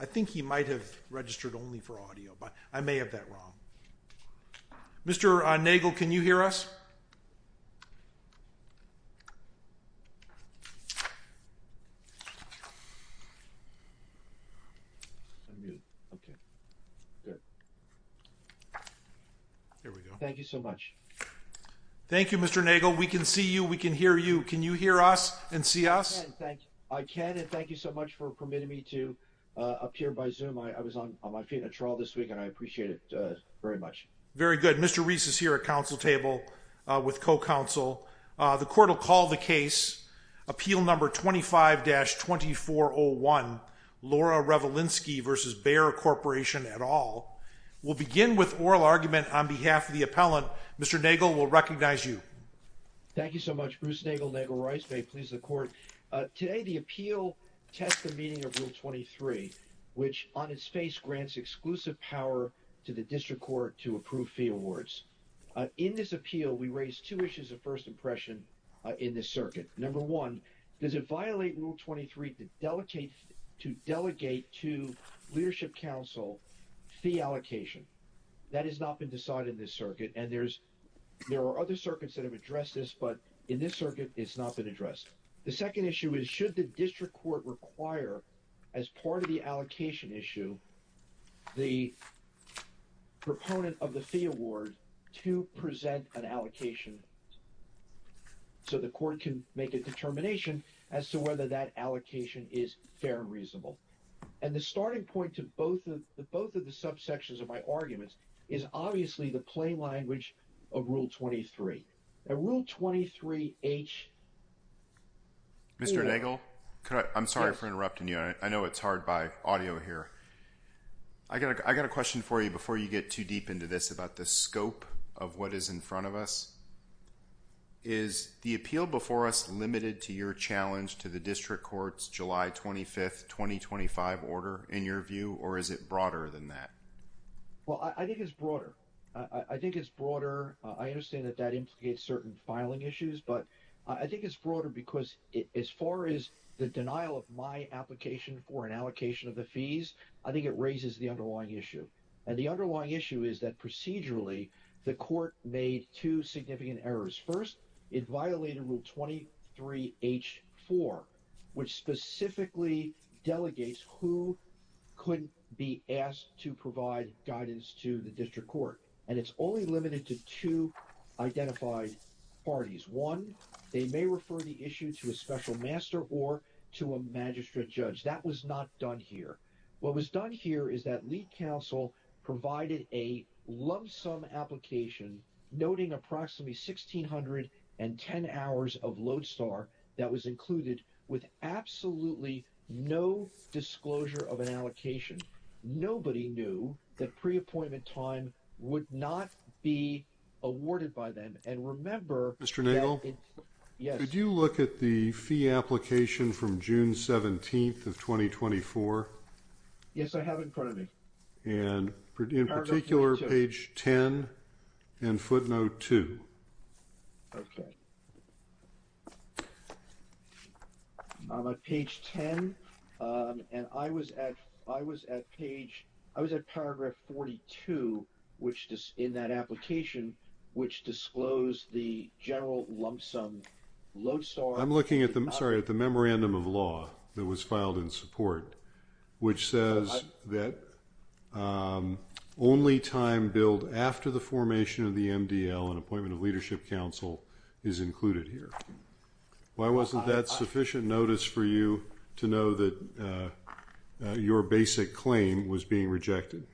I think he might have registered only for audio but I may have that wrong Mr. Nagel can you hear us thank you so much thank you Mr. Nagel we can see you we can hear you can you hear us and see us I can and thank you so much for permitting me to appear by zoom I was on my feet in a trial this week and I appreciate it very much very good Mr. Reese is here at council table with co-counsel the court will call the case appeal number 25-2401 Laura Revolinsky versus Bayer Corporation at all will begin with oral argument on behalf of the appellant Mr. Nagel will recognize you thank you so much Bruce Nagel Nagel Rice may please the court today the appeal test the meaning of rule 23 which on its face grants exclusive power to the district court to approve fee awards in this appeal we raise two issues of first impression in this circuit number one does it violate rule 23 to delegate to leadership council fee allocation that has not been decided in this circuit and there's there are other circuits that have addressed this but in this circuit it's not been addressed the second issue is should the district court require as part of the allocation issue the proponent of the fee award to present an allocation so the court can make a determination as to whether that allocation is fair and reasonable and the starting point to both of the both of the subsections of my arguments is obviously the plain language of rule 23 and rule 23 H mr. Nagel could I I'm sorry for interrupting you I know it's hard by audio here I got a question for you before you get too deep into this about the scope of what is in front of us is the appeal before us limited to your challenge to the district courts July 25th 2025 order in your view or is it broader than that well I think it's broader I think it's broader I understand that that implicates certain filing issues but I think it's broader because as far as the denial of my application for an allocation of the fees I think it raises the underlying issue and the underlying issue is that procedurally the court made two significant errors first it violated rule 23 h4 which specifically delegates who couldn't be asked to provide guidance to the district court and it's only limited to two identified parties one they may refer the issue to a special master or to a magistrate judge that was not done here what was done here is that lead counsel provided a lump sum application noting approximately sixteen hundred and ten hours of Lodestar that was included with absolutely no disclosure of an allocation nobody knew that pre-appointment time would not be awarded by them and remember mr. Nagle yes did you look at the fee application from June 17th of 2024 yes I have in and in particular page 10 and footnote 2 on page 10 and I was at I was at page I was at paragraph 42 which just in that application which disclosed the general lump sum Lodestar I'm looking at them at the memorandum of law that was filed in support which says that only time billed after the formation of the MDL an appointment of leadership council is included here why wasn't that sufficient notice for you to know that your basic claim was being rejected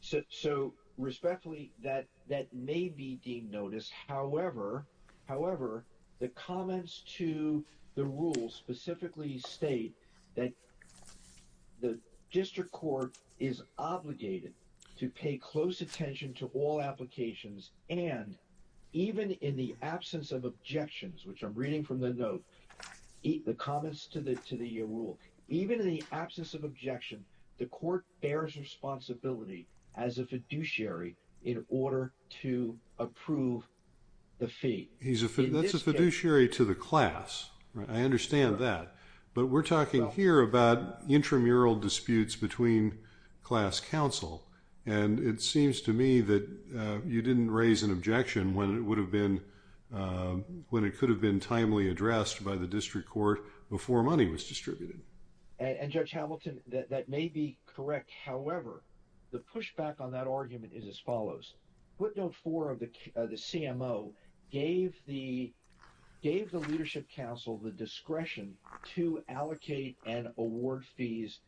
so respectfully that that may be deemed notice however the comments to the rule specifically state that the district court is obligated to pay close attention to all applications and even in the absence of objections which I'm reading from the note eat the comments to the to the rule even in the absence of objection the court bears responsibility as a in order to approve the feet he's a fiduciary to the class I understand that but we're talking here about intramural disputes between class counsel and it seems to me that you didn't raise an objection when it would have been when it could have been timely addressed by the district court before money was distributed and judge Hamilton that may be correct however the pushback on that argument is as follows what note for of the the CMO gave the gave the leadership council the discretion to allocate and award fees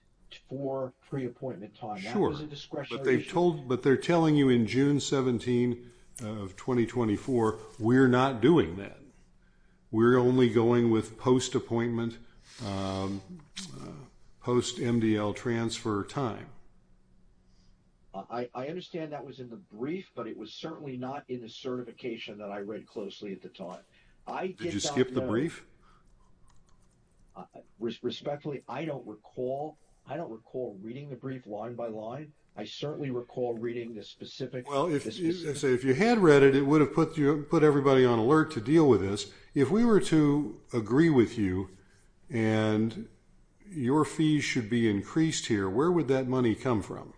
for pre appointment time they told but they're telling you in June 17 of 2024 we're not doing that we're only going with post appointment post MDL transfer time I understand that was in the brief but it was certainly not in the certification that I read closely at the time I just skipped the brief respectfully I don't recall I don't recall reading the brief line by line I certainly recall reading this specific well if you say if you had read it it would have put you put everybody on alert to deal with this if we were to agree with you and your fees should be increased here where would that money come from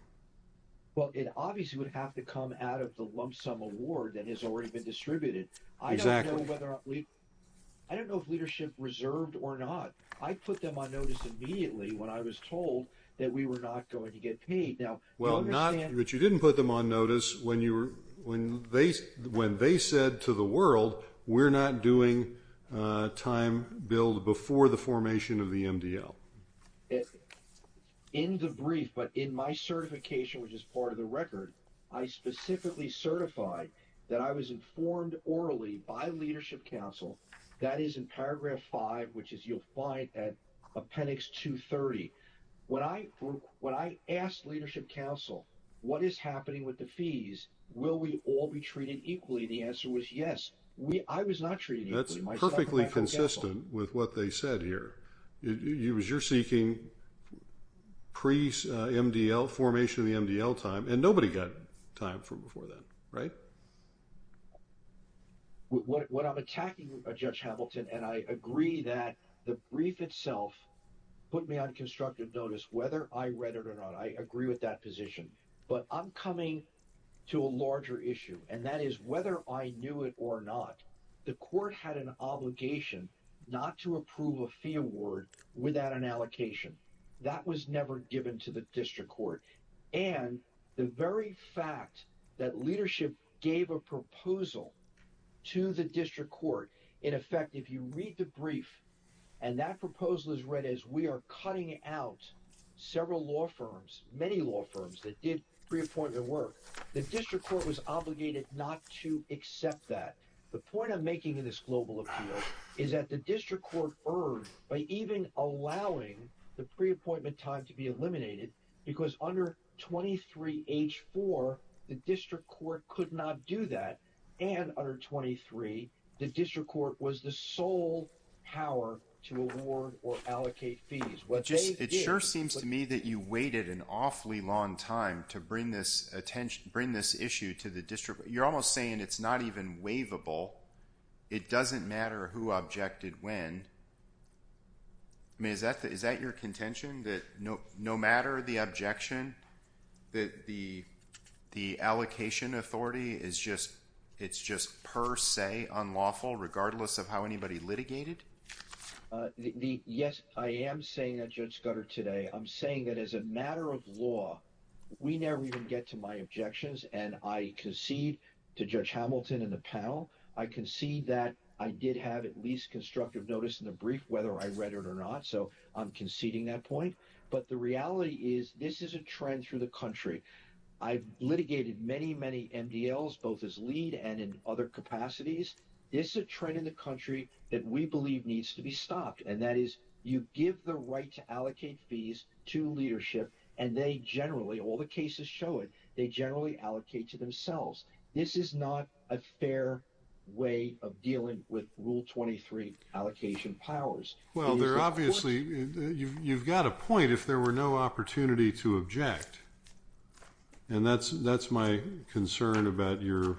well it obviously would have to come out of the lump sum award that has already been distributed I don't know whether I don't know if leadership reserved or not I put them on notice immediately when I was told that we were not going to get paid now well not that you didn't put them on notice when you were when they when they said to the world we're not doing time build before the formation of the MDL in the brief but in my certification which is part of the record I specifically certified that I was informed orally by Leadership Council that is in paragraph 5 which is you'll find at appendix 230 when I when I asked Leadership Council what is happening with the fees will we all be treated equally the answer was yes we I was not treating that's perfectly consistent with what they said here you was you're seeking priest MDL formation of the MDL time and nobody got time for before then right what I'm attacking a judge Hamilton and I agree that the brief itself put me on constructive notice whether I read it or not I agree with that position but I'm coming to a larger issue and that is whether I knew it or not the court had an obligation not to approve a fee award without an allocation that was never given to the district court and the very fact that leadership gave a proposal to the district court in effect if you read the brief and that proposal is read as we are cutting out several law firms many law firms that did pre-appointment work the district court was obligated not to accept that the point I'm making in this global appeal is that the district court earned by even allowing the pre-appointment time to be eliminated because under 23 h4 the district court could not do that and under 23 the district court was the sole power to award or allocate fees what just it sure seems to me that you waited an awfully long time to bring this attention bring this issue to the district you're almost saying it's not even waivable it doesn't matter who objected when I mean is that that is that your contention that no no matter the objection that the the allocation authority is just it's just per se unlawful regardless of how anybody litigated the yes I am saying a judge gutter today I'm saying that as a matter of law we never even get to my objections and I concede to judge Hamilton in the panel I concede that I did have at least constructive notice in the brief whether I read it or not so I'm conceding that point but the reality is this is a trend through the country I've litigated many many MDLs both as lead and in other capacities this is a trend in the country that we believe needs to be stopped and that is you give the right to allocate fees to leadership and they generally all the cases show it they generally allocate to themselves this is not a fair way of dealing with rule 23 allocation powers well they're obviously you've got a point if there were no opportunity to object and that's that's my concern about your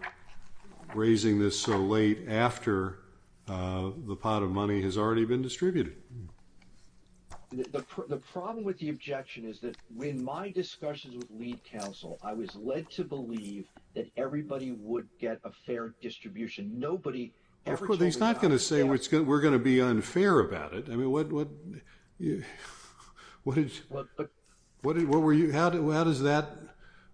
raising this so late after the pot of money has already been distributed the problem with the objection is that when my discussions with lead counsel I was led to believe that everybody would get a fair distribution nobody everything's not gonna say what's good we're gonna be unfair about it I mean what what what did what did what were you how do how does that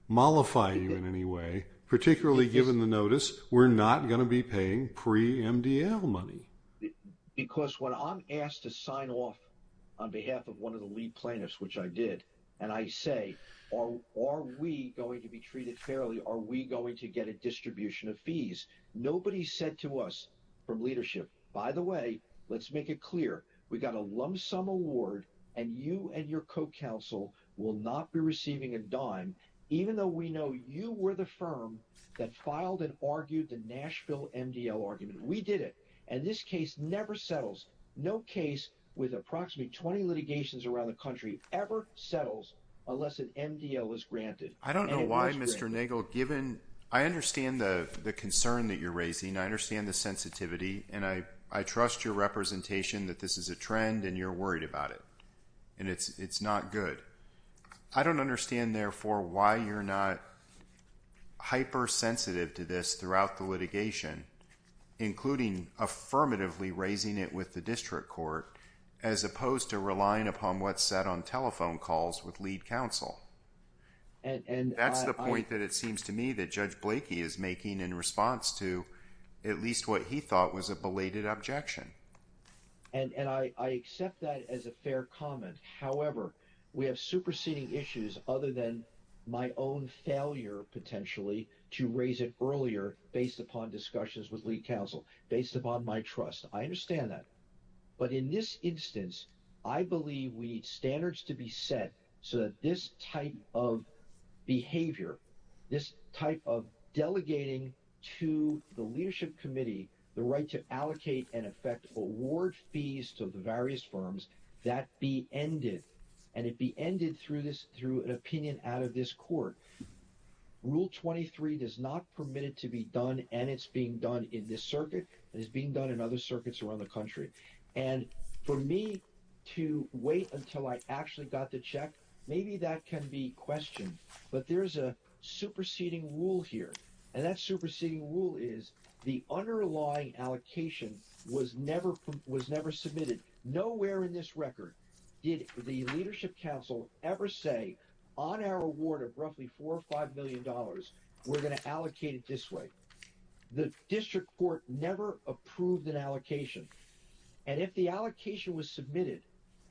mollify you in any way particularly given the notice we're not gonna be paying pre MDL money because when I'm asked to sign off on behalf of one of the lead plaintiffs which I did and I say or are we going to be treated fairly are we going to get a distribution of fees nobody said to us from leadership by the way let's make it clear we got a lump sum award and you and your co-counsel will not be receiving a dime even though we know you were the firm that filed and argued the argument we did it and this case never settles no case with approximately 20 litigations around the country ever settles unless an MDL is granted I don't know why mr. Nagel given I understand the the concern that you're raising I understand the sensitivity and I I trust your representation that this is a trend and you're worried about it and it's it's not good I don't understand therefore why you're not hyper sensitive to this throughout the litigation including affirmatively raising it with the district court as opposed to relying upon what's set on telephone calls with lead counsel and and that's the point that it seems to me that judge Blakey is making in response to at least what he thought was a belated objection and and I accept that as a fair comment however we have superseding issues other than my own failure potentially to raise it earlier based upon discussions with lead counsel based upon my trust I understand that but in this instance I believe we need standards to be set so that this type of behavior this type of delegating to the leadership committee the right to allocate and affect award fees to the various firms that be ended and it be ended through this through an opinion out of this court rule 23 does not permit it to be done and it's being done in this circuit that is being done in other circuits around the country and for me to wait until I actually got the check maybe that can be questioned but there's a superseding rule here and that superseding rule is the underlying allocation was never was never submitted nowhere in this record did the leadership council ever say on our award of roughly four or five million dollars we're going to allocate it this way the district court never approved an allocation and if the allocation was submitted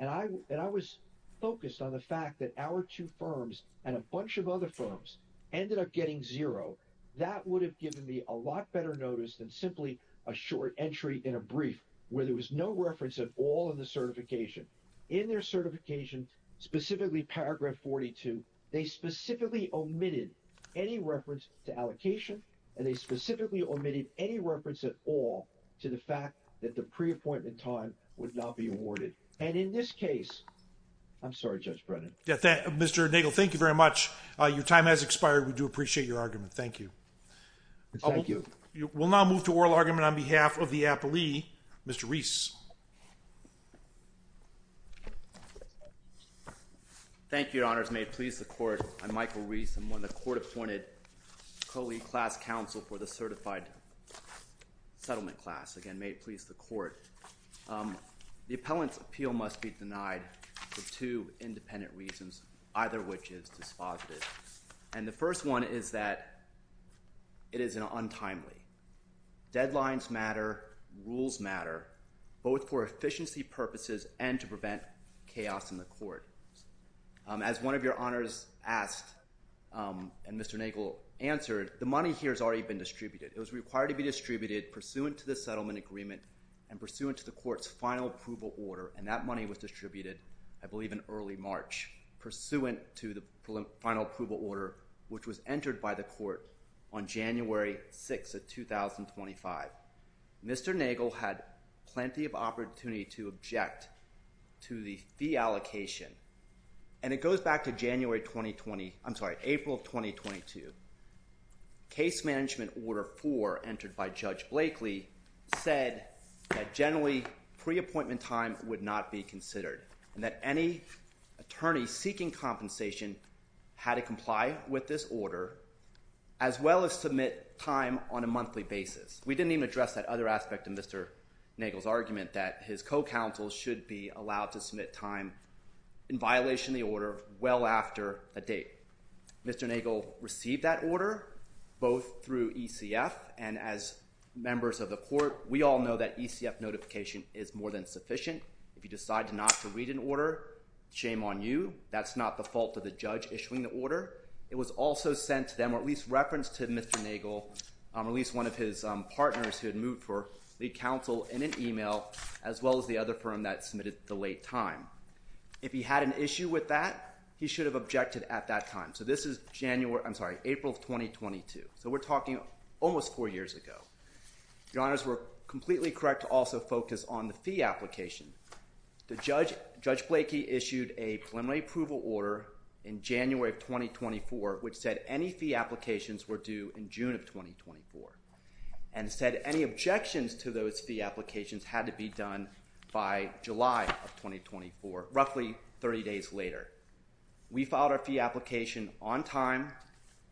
and I and I was focused on the fact that our two firms and a bunch of other firms ended up getting zero that would have given me a lot better notice than simply a short entry in a brief where there was no reference at all in the certification in their certification specifically paragraph 42 they specifically omitted any reference to allocation and they specifically omitted any reference at all to the fact that the pre-appointment time would not be awarded and in this case I'm sorry judge Brennan yeah that mr. Nagle thank you very much your time has expired we do appreciate your argument thank you oh thank you you will now move to oral argument on behalf of the Apple II mr. Reese thank you honors may please the court I'm Michael Reese and when the court appointed co-lead class counsel for the certified settlement class again may please the court the appellant's appeal must be denied for two independent reasons either which is dispositive and the first one is that it is an untimely deadlines matter rules matter both for efficiency purposes and to prevent chaos in the court as one of your honors asked and mr. Nagle answered the money here has already been distributed it was required to be distributed pursuant to the settlement agreement and pursuant to the court's final approval order and that money was distributed I believe in early March pursuant to the final approval order which was entered by the court on January 6 at 2025 mr. Nagle had plenty of opportunity to object to the fee allocation and it goes back to January 2020 I'm sorry April 2022 case management order for entered by judge Blakely said that generally pre-appointment time would not be considered and that any attorney seeking compensation had to comply with this order as well as submit time on a monthly basis we didn't even address that other aspect of mr. Nagle's argument that his co-counsel should be allowed to submit time in violation the order well after a date mr. Nagle received that order both through ECF and as members of the court we all know that ECF notification is more than sufficient if you decide to not to read an order shame on you that's not the fault of the judge issuing the order it was also sent to them or at least reference to mr. Nagle I'm at least one of his partners who had moved for the council in an email as well as the other firm that submitted the late time if he had an issue with that he should have objected at that time so this is January I'm sorry April of 2022 so we're talking almost four years ago your honors were completely correct to also focus on the fee application the judge judge Blakey issued a preliminary approval order in January of 2024 which said any fee applications were due in June of 2024 and said any objections to those fee applications had to be done by July of 2024 roughly 30 days later we filed our fee application on time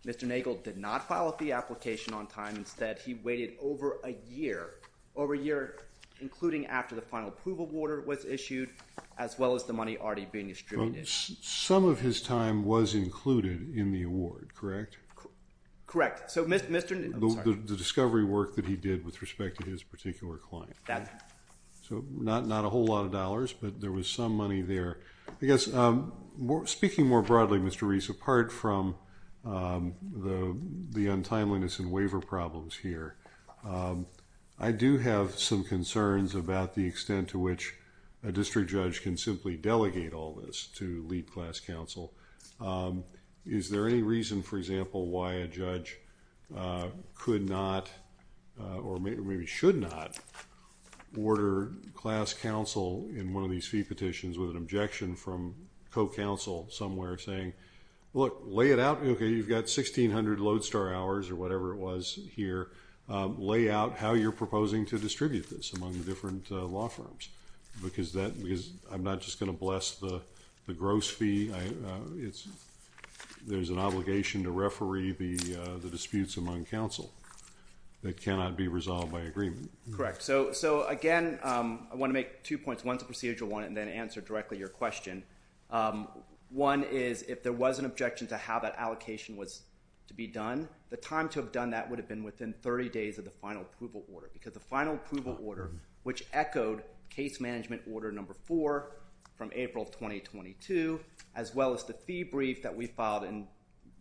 mr. Nagle did not file a fee application on time instead he waited over a year over a year including after the final approval order was issued as well as the money already being distributed some of his time was included in the award correct correct so mr. Newton the discovery work that he did with respect to his particular client dad so not not a whole lot of dollars but there was some money there I guess more speaking more broadly mr. Reese apart from the the untimeliness and waiver problems here I do have some concerns about the extent to which a district judge can simply delegate all this to lead class counsel is there any reason for example why a judge could not or maybe should not order class counsel in one of these fee petitions with an objection from Co counsel somewhere saying look lay it out okay you've got 1600 lodestar hours or whatever it was here lay out how you're proposing to distribute this among the different law firms because that because I'm not just going to bless the the there's an obligation to referee the the disputes among counsel that cannot be resolved by agreement correct so so again I want to make two points one to procedural one and then answer directly your question one is if there was an objection to how that allocation was to be done the time to have done that would have been within 30 days of the final approval order because the final approval order which echoed case management order number four from April of 2022 as well as the fee brief that we filed in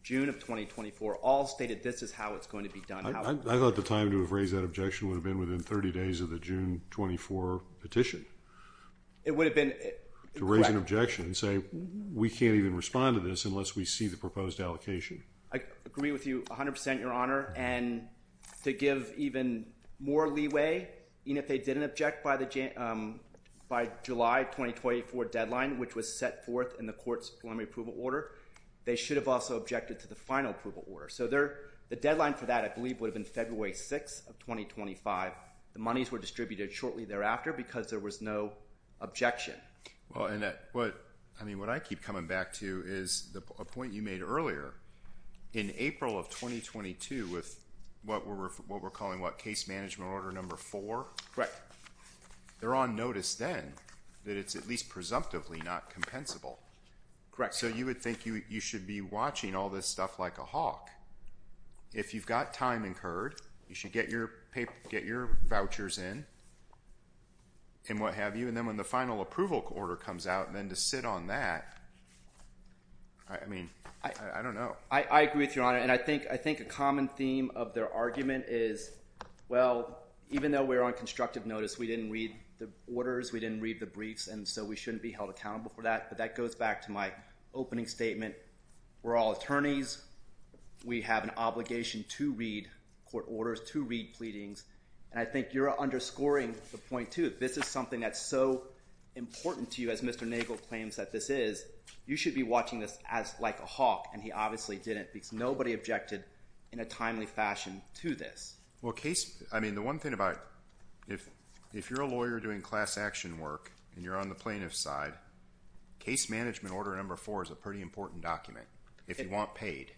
June of 2024 all stated this is how it's going to be done I thought the time to have raised that objection would have been within 30 days of the June 24 petition it would have been to raise an objection and say we can't even respond to this unless we see the proposed allocation I agree with you 100% your honor and to give even more leeway even if they didn't object by the gym by July 2024 deadline which was set forth in the court's preliminary approval order they should have also objected to the final approval order so there the deadline for that I believe would have been February 6 of 2025 the monies were distributed shortly thereafter because there was no objection well and that what I mean what I keep coming back to is the point you made earlier in April of 2022 with what we're what we're calling what case management order number four correct they're on notice then that it's at least presumptively not compensable correct so you would think you you should be watching all this stuff like a hawk if you've got time incurred you should get your paper get your vouchers in and what have you and then when the final approval order comes out and then to sit on that I mean I don't know I agree with your honor and I think I common theme of their argument is well even though we're on constructive notice we didn't read the orders we didn't read the briefs and so we shouldn't be held accountable for that but that goes back to my opening statement we're all attorneys we have an obligation to read court orders to read pleadings and I think you're underscoring the point to this is something that's so important to you as mr. Nagel claims that this is you should be watching this as like a hawk and he obviously didn't because nobody objected in a timely fashion to this well case I mean the one thing about if if you're a lawyer doing class action work and you're on the plaintiff side case management order number four is a pretty important document if you want paid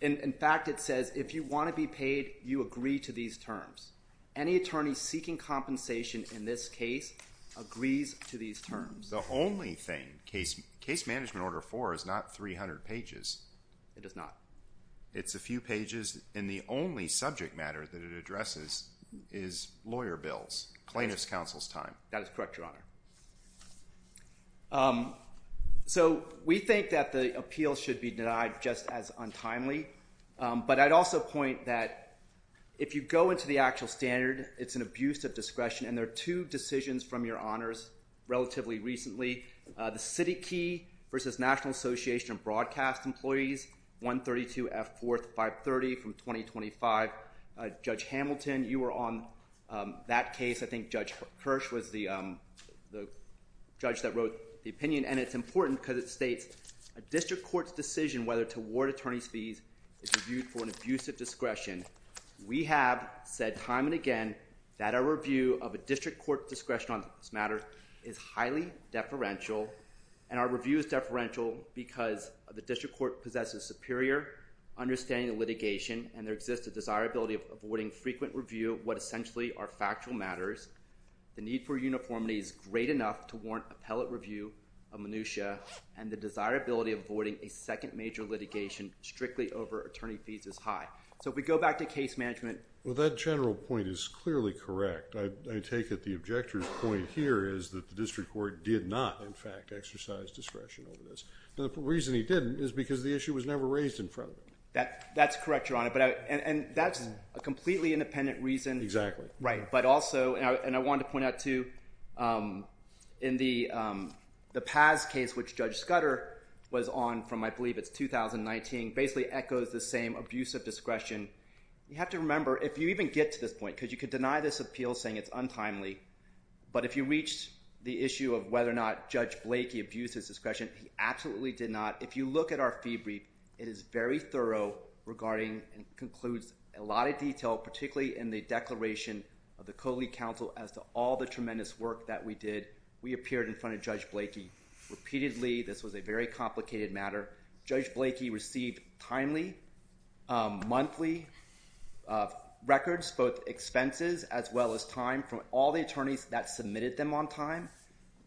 in fact it says if you want to be paid you agree to these terms any attorney seeking compensation in this case agrees to these terms the only thing case case management order four is not 300 pages it does not it's a few pages in the only subject matter that it addresses is lawyer bills plaintiff's counsel's time that is correct your honor so we think that the appeal should be denied just as untimely but I'd also point that if you go into the actual standard it's an abuse of discretion and there are two decisions from your honors relatively recently the city key versus National Association of broadcast employees 132 F 4th 530 from 2025 judge Hamilton you were on that case I think judge Hirsch was the judge that wrote the opinion and it's important because it states a district court's decision whether to award attorneys fees is reviewed for an abuse of discretion we have said time and again that our review of a district court discretion on this is highly deferential and our review is deferential because the district court possesses superior understanding of litigation and there exists a desirability of avoiding frequent review what essentially are factual matters the need for uniformity is great enough to warrant appellate review of minutia and the desirability of avoiding a second major litigation strictly over attorney fees is high so if we go back to case management well that general point is clearly correct I take it the objector's point here is that the district court did not in fact exercise discretion over this the reason he didn't is because the issue was never raised in front of it that that's correct your honor but I and that's a completely independent reason exactly right but also and I wanted to point out to in the the past case which judge Scudder was on from I believe it's 2019 basically echoes the same abuse of discretion you have to remember if you even get to this point because you could deny this appeal saying it's untimely but if you reach the issue of whether or not judge Blakey abuses discretion he absolutely did not if you look at our fee brief it is very thorough regarding and concludes a lot of detail particularly in the declaration of the Coley counsel as to all the tremendous work that we did we appeared in front of judge Blakey repeatedly this was a very complicated matter judge Blakey received timely monthly records both expenses as well as time from all the attorneys that submitted them on time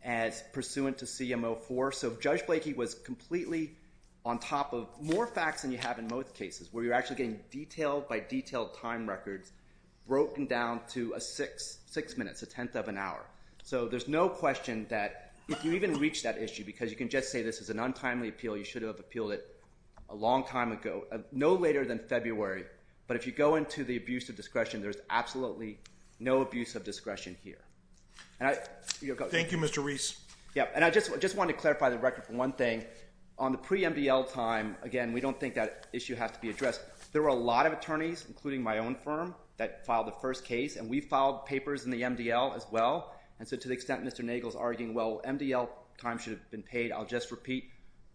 as pursuant to CMO for so judge Blakey was completely on top of more facts than you have in most cases where you're actually getting detailed by detailed time records broken down to a six six minutes a tenth of an hour so there's no question that if you even reach that issue because you can just say this is an untimely appeal you should have appealed it a long time ago no later than February but if you go into the abuse of discretion there's absolutely no abuse of discretion here and I thank you mr. Reese yeah and I just just want to clarify the record for one thing on the pre MDL time again we don't think that issue has to be addressed there were a lot of attorneys including my own firm that filed the first case and we filed papers in the MDL as well and so to the extent mr. Nagel's arguing well MDL time should have been paid I'll just repeat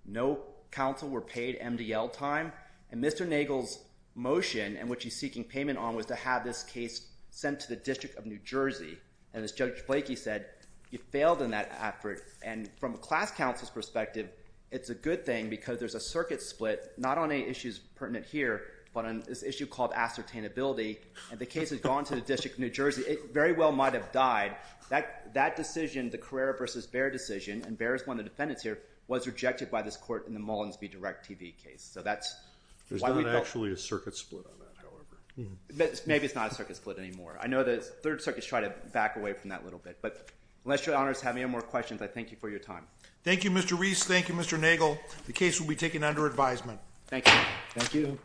no counsel were paid MDL time and mr. Nagel's motion and what she's seeking payment on was to have this case sent to the District of New Jersey and as judge Blakey said you failed in that effort and from a class counsel's perspective it's a good thing because there's a circuit split not on any issues pertinent here but on this issue called ascertain ability and the case has gone to the District of New Jersey it very well might have died that decision the career versus bear decision and bears one of the defendants here was rejected by this court in the Mullins be direct TV case so that's actually a circuit split maybe it's not a circuit split anymore I know the third circuits try to back away from that little bit but unless your honors have any more questions I thank you for your time Thank You mr. Reese Thank You mr. Nagel the case will be taken under advisement thank you